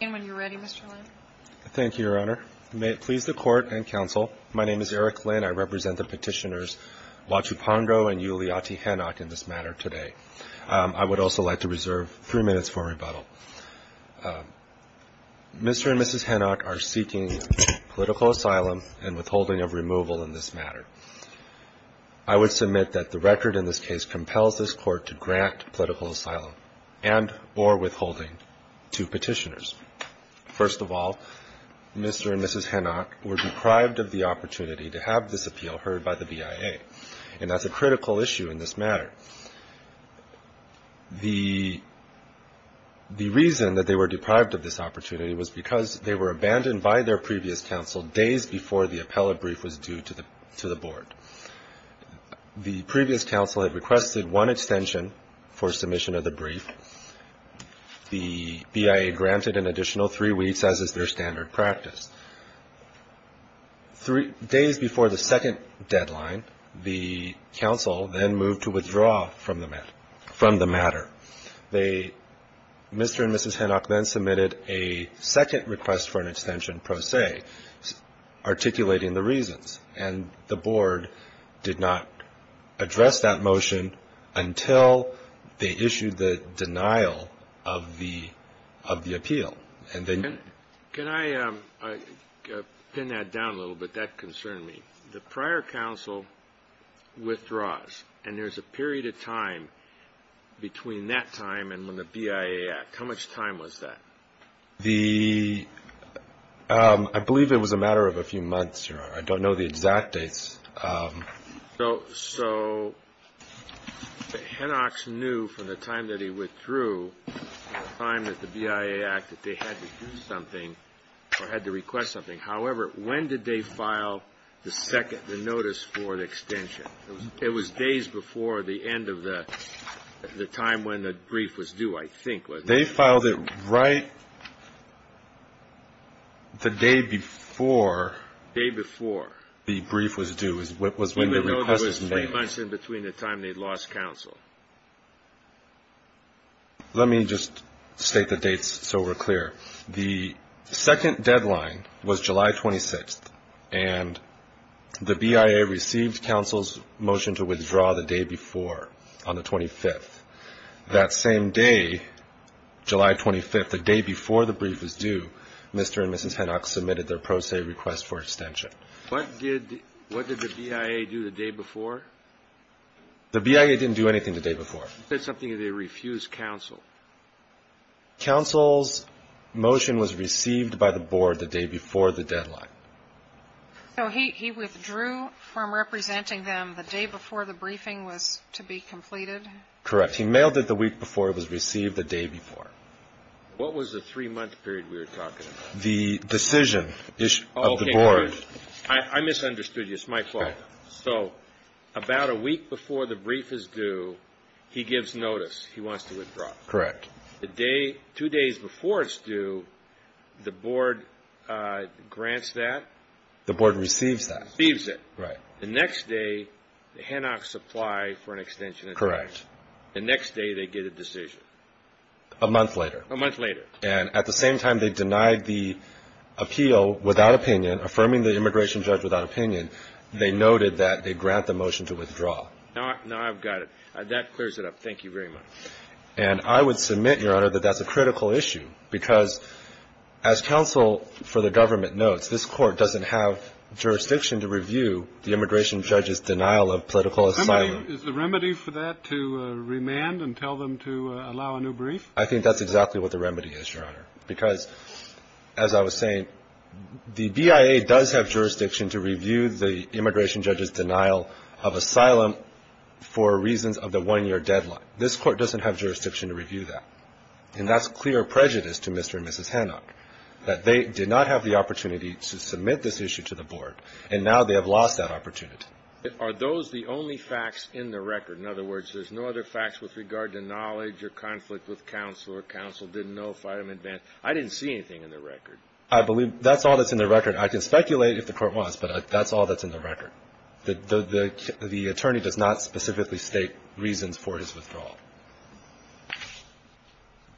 And when you're ready, Mr. Lynn. Thank you, Your Honor. May it please the court and counsel. My name is Eric Lynn. I represent the petitioners Wachupongo and Yuliaty Henoch in this matter today. I would also like to reserve three minutes for rebuttal. Mr. and Mrs. Henoch are seeking political asylum and withholding of removal in this matter. I would submit that the record in this case compels this court to grant political asylum and or withholding to petitioners. First of all, Mr. and Mrs. Henoch were deprived of the opportunity to have this appeal heard by the BIA, and that's a critical issue in this matter. The reason that they were deprived of this opportunity was because they were abandoned by their previous counsel days before the appellate brief was due to the board. The previous counsel had requested one extension for submission of the brief. The BIA granted an additional three weeks, as is their standard practice. Days before the second deadline, the counsel then moved to withdraw from the matter. Mr. and Mrs. Henoch then submitted a second request for an extension pro se, articulating the reasons, and the board did not address that motion until they issued the denial of the appeal. Can I pin that down a little bit? That concerned me. The prior counsel withdraws, and there's a period of time between that time and when the BIA act. How much time was that? I believe it was a matter of a few months. I don't know the exact dates. So Henoch knew from the time that he withdrew, the time that the BIA acted, they had to do something or had to request something. However, when did they file the second, the notice for the extension? It was days before the end of the time when the brief was due, I think, wasn't it? They filed it right the day before. Day before. The brief was due, was when the request was made. Even though it was three months in between the time they lost counsel. Let me just state the dates so we're clear. The second deadline was July 26th, and the BIA received counsel's motion to withdraw the day before, on the 25th. That same day, July 25th, the day before the brief was due, Mr. and Mrs. Henoch submitted their pro se request for extension. What did the BIA do the day before? The BIA didn't do anything the day before. They said something and they refused counsel. Counsel's motion was received by the board the day before the deadline. So he withdrew from representing them the day before the briefing was to be completed? Correct. He mailed it the week before it was received the day before. What was the three-month period we were talking about? The decision of the board. I misunderstood you. It's my fault. So about a week before the brief is due, he gives notice. He wants to withdraw. Correct. Two days before it's due, the board grants that? The board receives that. Receives it. Right. The next day, the Henochs apply for an extension. Correct. The next day they get a decision. A month later. A month later. And at the same time they denied the appeal without opinion, affirming the immigration judge without opinion, they noted that they grant the motion to withdraw. Now I've got it. That clears it up. Thank you very much. And I would submit, Your Honor, that that's a critical issue, because as counsel for the government notes, this Court doesn't have jurisdiction to review the immigration judge's denial of political asylum. Is the remedy for that to remand and tell them to allow a new brief? I think that's exactly what the remedy is, Your Honor, because, as I was saying, the BIA does have jurisdiction to review the immigration judge's denial of asylum for reasons of the one-year deadline. This Court doesn't have jurisdiction to review that. And that's clear prejudice to Mr. and Mrs. Henoch, that they did not have the opportunity to submit this issue to the Board, and now they have lost that opportunity. Are those the only facts in the record? In other words, there's no other facts with regard to knowledge or conflict with counsel or counsel didn't know if item advanced? I didn't see anything in the record. I believe that's all that's in the record. I can speculate if the Court wants, but that's all that's in the record. The attorney does not specifically state reasons for his withdrawal.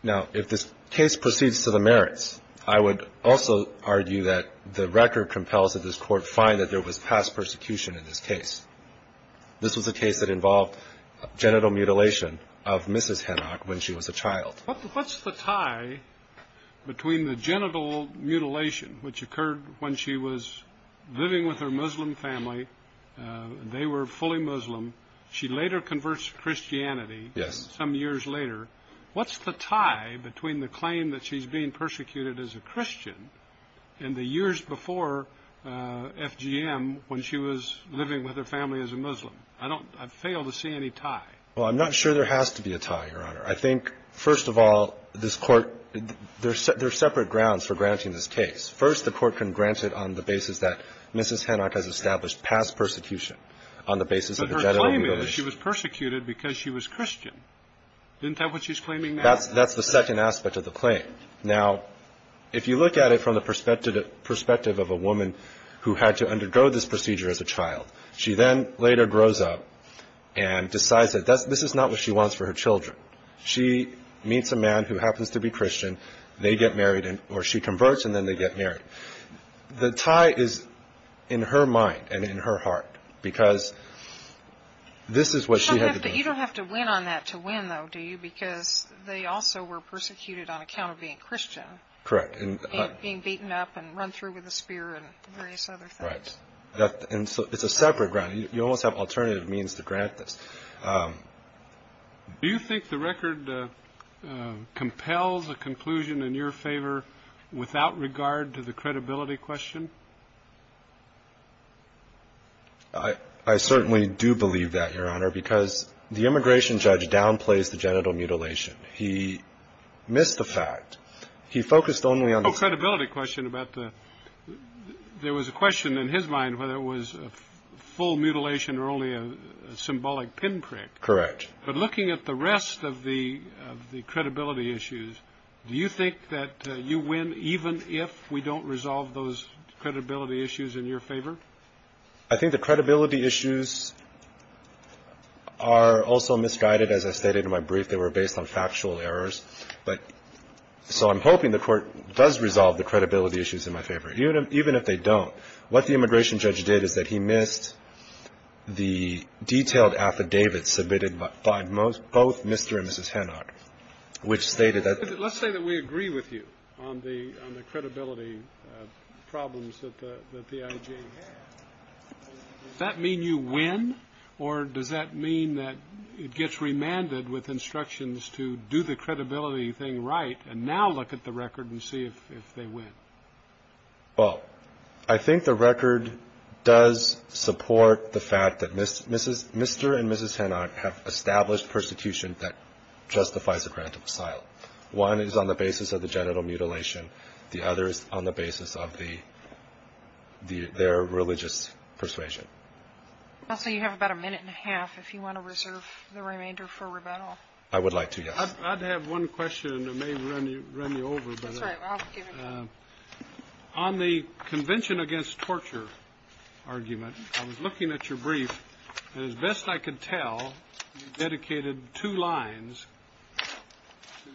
Now, if this case proceeds to the merits, I would also argue that the record compels that this Court find that there was past persecution in this case. This was a case that involved genital mutilation of Mrs. Henoch when she was a child. What's the tie between the genital mutilation, which occurred when she was living with her Muslim family, and they were fully Muslim, she later converts to Christianity some years later, what's the tie between the claim that she's being persecuted as a Christian and the years before FGM when she was living with her family as a Muslim? I fail to see any tie. Well, I'm not sure there has to be a tie, Your Honor. I think, first of all, this Court, there's separate grounds for granting this case. First, the Court can grant it on the basis that Mrs. Henoch has established past persecution on the basis of genital mutilation. But her claim is she was persecuted because she was Christian. Isn't that what she's claiming now? That's the second aspect of the claim. Now, if you look at it from the perspective of a woman who had to undergo this procedure She then later grows up and decides that this is not what she wants for her children. She meets a man who happens to be Christian. They get married, or she converts, and then they get married. The tie is in her mind and in her heart because this is what she had to do. You don't have to win on that to win, though, do you? Because they also were persecuted on account of being Christian. Correct. And being beaten up and run through with a spear and various other things. Right. And so it's a separate ground. You almost have alternative means to grant this. Do you think the record compels a conclusion in your favor without regard to the credibility question? I certainly do believe that, Your Honor, because the immigration judge downplays the genital mutilation. He missed the fact. He focused only on the credibility question about the There was a question in his mind whether it was a full mutilation or only a symbolic pinprick. Correct. But looking at the rest of the credibility issues, do you think that you win even if we don't resolve those credibility issues in your favor? I think the credibility issues are also misguided. As I stated in my brief, they were based on factual errors. But so I'm hoping the court does resolve the credibility issues in my favor, even if they don't. What the immigration judge did is that he missed the detailed affidavits submitted by both Mr. and Mrs. Hanock, which stated that. Let's say that we agree with you on the credibility problems that the I.J. Does that mean you win? Or does that mean that it gets remanded with instructions to do the credibility thing right and now look at the record and see if they win? Well, I think the record does support the fact that Mr. and Mrs. Hanock have established persecution that justifies the grant of asylum. One is on the basis of the genital mutilation. The other is on the basis of the their religious persuasion. So you have about a minute and a half if you want to reserve the remainder for rebuttal. I would like to. I'd have one question that may run you run you over. On the convention against torture argument, I was looking at your brief. And as best I could tell, you dedicated two lines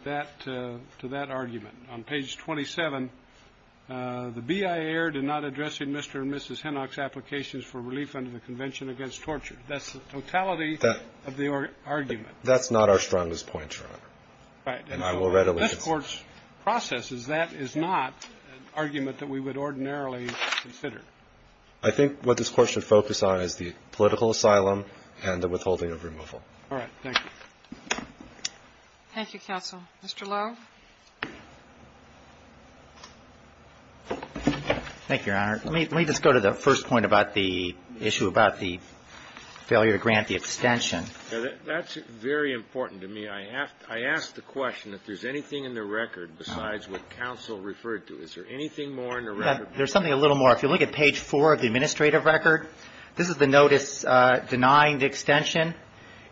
that to that argument on page twenty seven. The BIA did not addressing Mr. and Mrs. Hanock's applications for relief under the convention against torture. That's the totality of the argument. That's not our strongest point. And I will readily court's process is that is not an argument that we would ordinarily consider. I think what this court should focus on is the political asylum and the withholding of removal. All right. Thank you, counsel. Mr. Thank you. Let me just go to the first point about the issue about the failure to grant the extension. That's very important to me. I asked the question if there's anything in the record besides what counsel referred to. Is there anything more in the record? There's something a little more. If you look at page four of the administrative record, this is the notice denying the extension.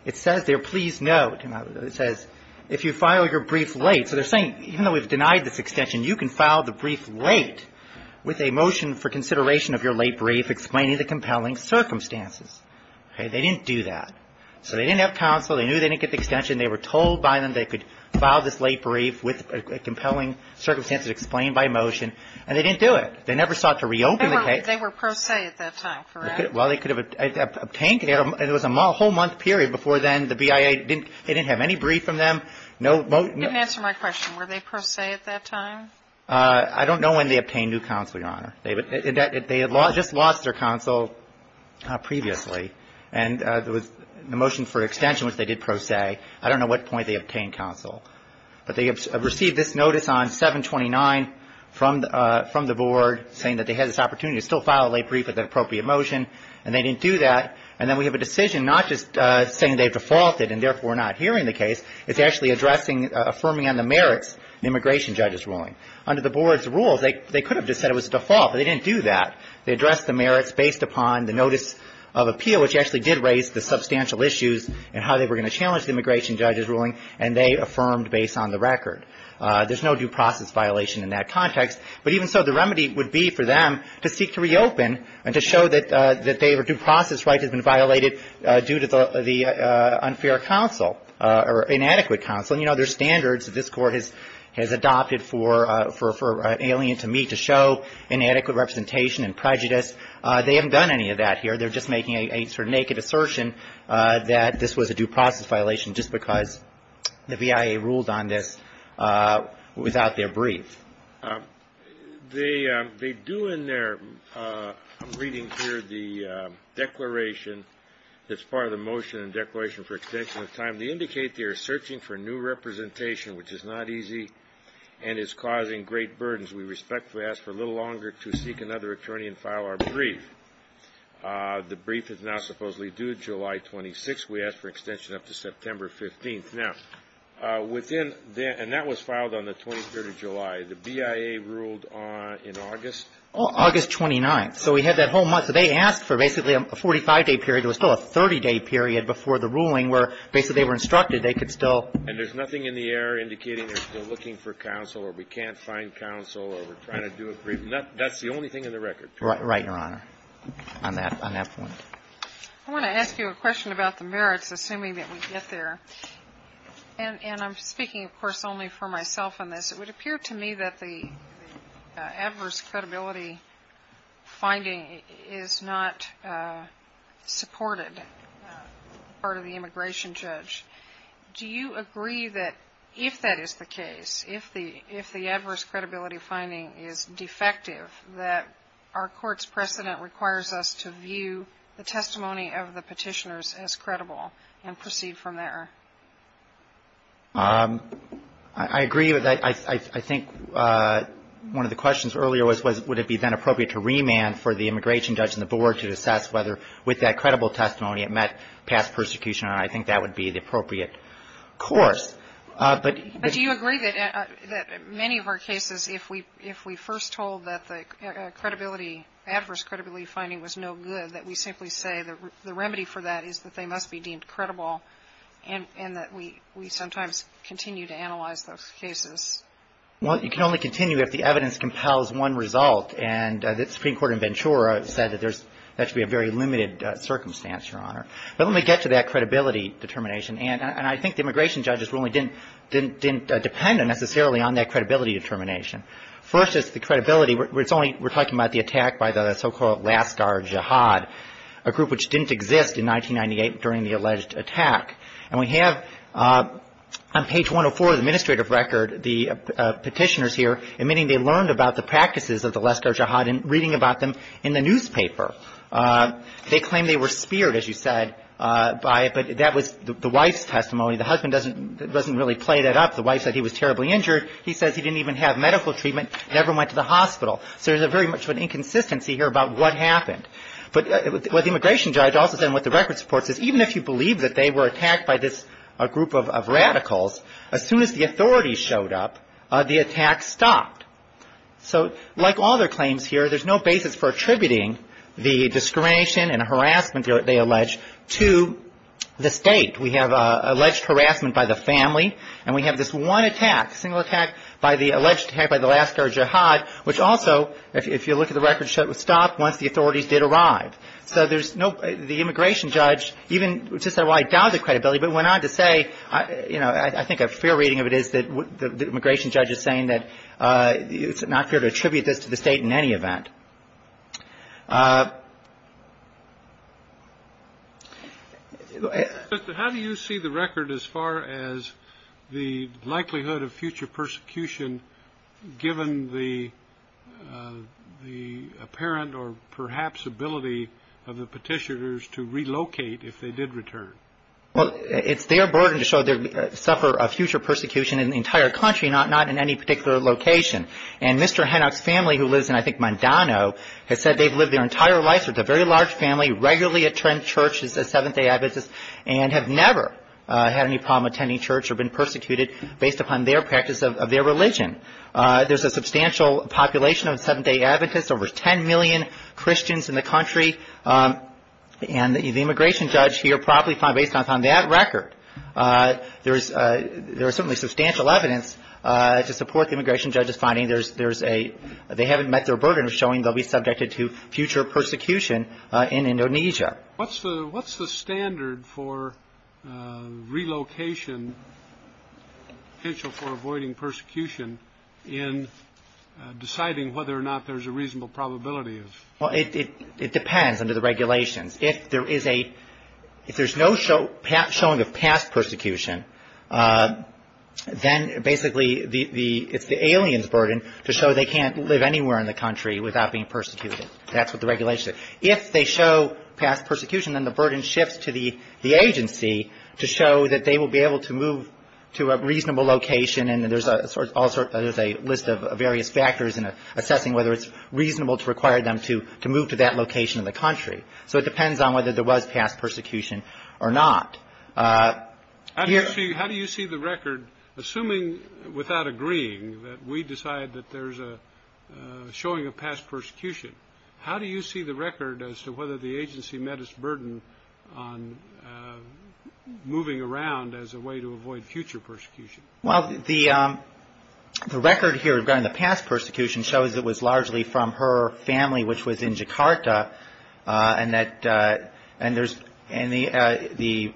It says there, please note, it says, if you file your brief late. So they're saying, you know, we've denied this extension. You can file the brief late with a motion for consideration of your late brief explaining the compelling circumstances. They didn't do that. So they didn't have counsel. They knew they didn't get the extension. They were told by them they could file this late brief with compelling circumstances explained by motion. And they didn't do it. They never sought to reopen the case. They were pro se at that time, correct? Well, they could have obtained it. It was a whole month period before then. The BIA didn't have any brief from them. They didn't answer my question. Were they pro se at that time? I don't know when they obtained new counsel, Your Honor. They had just lost their counsel previously. And there was a motion for extension, which they did pro se. I don't know what point they obtained counsel. But they received this notice on 729 from the board saying that they had this opportunity to still file a late brief with an appropriate motion. And they didn't do that. And then we have a decision not just saying they defaulted and therefore not hearing the case. It's actually addressing, affirming on the merits of the immigration judge's ruling. Under the board's rules, they could have just said it was a default, but they didn't do that. They addressed the merits based upon the notice of appeal, which actually did raise the substantial issues in how they were going to challenge the immigration judge's ruling, and they affirmed based on the record. There's no due process violation in that context. But even so, the remedy would be for them to seek to reopen and to show that their due process right has been violated due to the unfair counsel or inadequate counsel. And, you know, there's standards that this Court has adopted for an alien to meet to show inadequate representation and prejudice. They haven't done any of that here. They're just making a sort of naked assertion that this was a due process violation just because the V.I.A. ruled on this without their brief. They do in their reading here the declaration that's part of the motion and declaration for extension of time. They indicate they are searching for new representation, which is not easy and is causing great burdens. We respectfully ask for a little longer to seek another attorney and file our brief. The brief is now supposedly due July 26th. We ask for extension up to September 15th. Now, within that, and that was filed on the 23rd of July. The V.I.A. ruled in August. Well, August 29th. So we had that whole month. So they asked for basically a 45-day period. It was still a 30-day period before the ruling where basically they were instructed they could still. And there's nothing in the air indicating they're still looking for counsel or we can't find counsel or we're trying to do a brief. That's the only thing in the record. Right, Your Honor, on that point. I want to ask you a question about the merits, assuming that we get there. And I'm speaking, of course, only for myself on this. It would appear to me that the adverse credibility finding is not supported by the immigration judge. Do you agree that if that is the case, if the adverse credibility finding is defective, that our court's precedent requires us to view the testimony of the petitioners as credible and proceed from there? I agree with that. I think one of the questions earlier was would it be then appropriate to remand for the immigration judge and the board to assess whether with that credible testimony it met past persecution. And I think that would be the appropriate course. But do you agree that many of our cases, if we first told that the credibility, adverse credibility finding was no good, that we simply say the remedy for that is that they must be deemed credible and that we sometimes continue to analyze those cases? Well, you can only continue if the evidence compels one result. And the Supreme Court in Ventura said that that should be a very limited circumstance, Your Honor. But let me get to that credibility determination. And I think the immigration judges really didn't depend necessarily on that credibility determination. First is the credibility. We're talking about the attack by the so-called Lascar Jihad, a group which didn't exist in 1998 during the alleged attack. And we have on page 104 of the administrative record the petitioners here admitting they learned about the practices of the Lascar Jihad in reading about them in the newspaper. They claim they were speared, as you said, by it. But that was the wife's testimony. The husband doesn't really play that up. The wife said he was terribly injured. He says he didn't even have medical treatment, never went to the hospital. So there's very much an inconsistency here about what happened. But what the immigration judge also said, and what the record supports, is even if you believe that they were attacked by this group of radicals, as soon as the authorities showed up, the attack stopped. So like all their claims here, there's no basis for attributing the discrimination and harassment they allege to the state. We have alleged harassment by the family, and we have this one attack, single attack by the alleged attack by the Lascar Jihad, which also, if you look at the record, would stop once the authorities did arrive. So there's no – the immigration judge even – which is why I doubt the credibility, but went on to say – you know, I think a fair reading of it is that the immigration judge is saying that it's not fair to attribute this to the state in any event. Mr. Henock, how do you see the record as far as the likelihood of future persecution given the apparent or perhaps ability of the petitioners to relocate if they did return? Well, it's their burden to suffer a future persecution in the entire country, not in any particular location. And Mr. Henock's family, who lives in, I think, Mondano, has said they've lived their entire lives with a very large family, regularly attend churches as Seventh-day Adventists, and have never had any problem attending church or been persecuted based upon their practice of their religion. There's a substantial population of Seventh-day Adventists, over 10 million Christians in the country, and the immigration judge here probably – based on that record, there is certainly substantial evidence to support the immigration judge's finding there's a – they haven't met their burden of showing they'll be subjected to future persecution in Indonesia. What's the standard for relocation potential for avoiding persecution in deciding whether or not there's a reasonable probability of – Well, it depends under the regulations. If there is a – if there's no showing of past persecution, then basically the – it's the alien's burden to show they can't live anywhere in the country without being persecuted. That's what the regulations say. If they show past persecution, then the burden shifts to the agency to show that they will be able to move to a reasonable location, and there's a list of various factors in assessing whether it's reasonable to require them to move to that location in the country. So it depends on whether there was past persecution or not. How do you see the record – assuming without agreeing that we decide that there's a showing of past persecution, how do you see the record as to whether the agency met its burden on moving around as a way to avoid future persecution? Well, the record here regarding the past persecution shows it was largely from her family, which was in Jakarta, and that – and there's – and the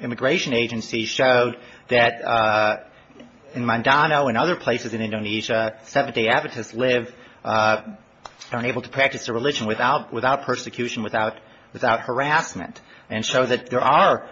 immigration agency showed that in Mandano and other places in Indonesia, Seventh-day Adventists live – are unable to practice their religion without persecution, without harassment, and show that there are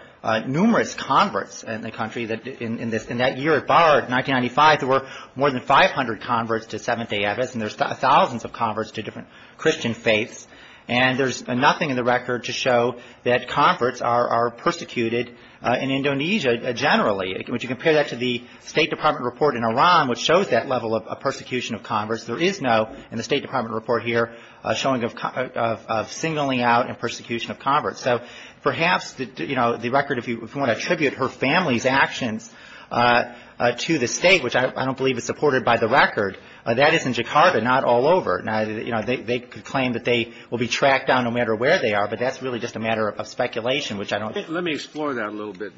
numerous converts in the country that in this – in that year at Bard, 1995, there were more than 500 converts to Seventh-day Adventists, and there's thousands of converts to different Christian faiths, and there's nothing in the record to show that converts are persecuted in Indonesia generally. When you compare that to the State Department report in Iran, which shows that level of persecution of converts, there is no, in the State Department report here, showing of singling out and persecution of converts. So perhaps, you know, the record, if you want to attribute her family's actions to the state, which I don't believe is supported by the record, that is in Jakarta, not all over. Now, you know, they could claim that they will be tracked down no matter where they are, but that's really just a matter of speculation, which I don't think – Let me explore that a little bit,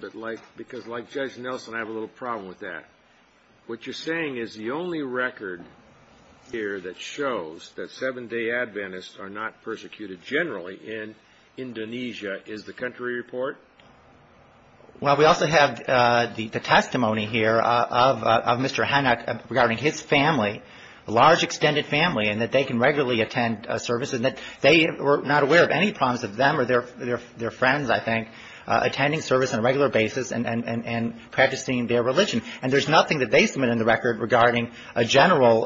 because like Judge Nelson, I have a little problem with that. What you're saying is the only record here that shows that Seventh-day Adventists are not persecuted generally in Indonesia is the country report? Well, we also have the testimony here of Mr. Hanak regarding his family, a large extended family, and that they can regularly attend services, and that they were not aware of any problems of them or their friends, I think, attending service on a regular basis and practicing their religion. And there's nothing that they submit in the record regarding a general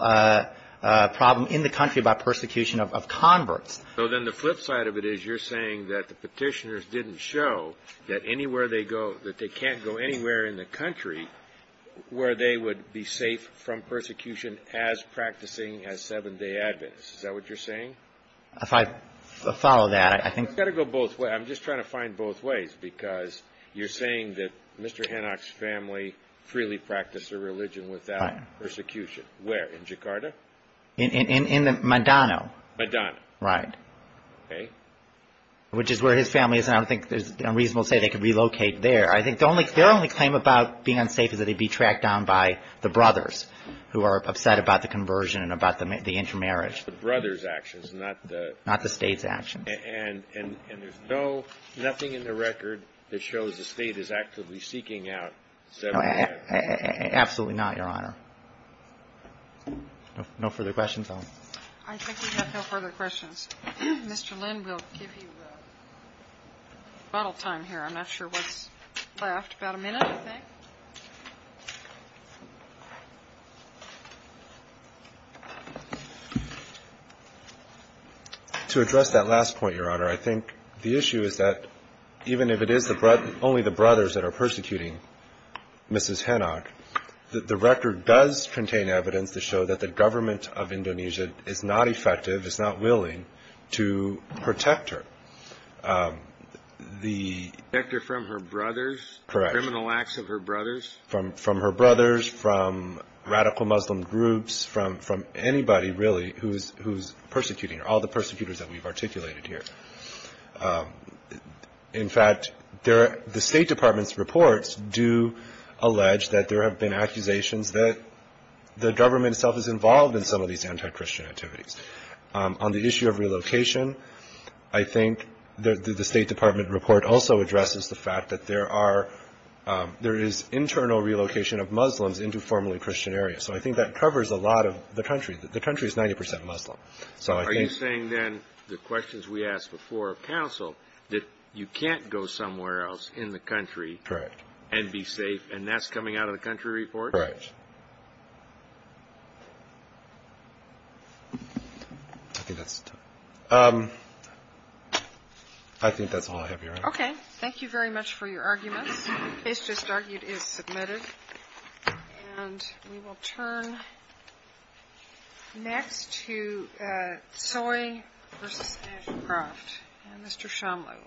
problem in the country about persecution of converts. So then the flip side of it is you're saying that the Petitioners didn't show that anywhere they go, that they can't go anywhere in the country where they would be safe from persecution as practicing as Seventh-day Adventists. Is that what you're saying? If I follow that, I think – I've got to go both ways. I'm just trying to find both ways, because you're saying that Mr. Hanak's family freely practiced their religion without persecution. Where? In Jakarta? In the Madano. Madano. Right. Okay. Which is where his family is, and I don't think it's unreasonable to say they could relocate there. I think their only claim about being unsafe is that they'd be tracked down by the brothers, who are upset about the conversion and about the intermarriage. The brothers' actions, not the – Not the state's actions. And there's no – nothing in the record that shows the state is actively seeking out Seventh-day Adventists. Absolutely not, Your Honor. No further questions? I think we have no further questions. Mr. Lynn will give you the bottle time here. I'm not sure what's left. About a minute, I think. To address that last point, Your Honor, I think the issue is that even if it is only the brothers that are persecuting Mrs. Hanak, the record does contain evidence to show that the government of Indonesia is not effective, is not willing to protect her. Protect her from her brothers? Correct. Criminal acts of her brothers? From her brothers, from radical Muslim groups, from anybody, really, who's persecuting her, all the persecutors that we've articulated here. In fact, the State Department's reports do allege that there have been accusations that the government itself is involved in some of these anti-Christian activities. On the issue of relocation, I think the State Department report also addresses the fact that there are – there is a concern over relocation of Muslims into formerly Christian areas. So I think that covers a lot of the country. The country is 90 percent Muslim. So I think – Are you saying, then, the questions we asked before of counsel, that you can't go somewhere else in the country – Correct. – and be safe, and that's coming out of the country report? Correct. I think that's – I think that's all I have, Your Honor. Okay. Thank you very much for your arguments. The case just argued is submitted. And we will turn next to Tsoi v. Ashcroft and Mr. Shumlow.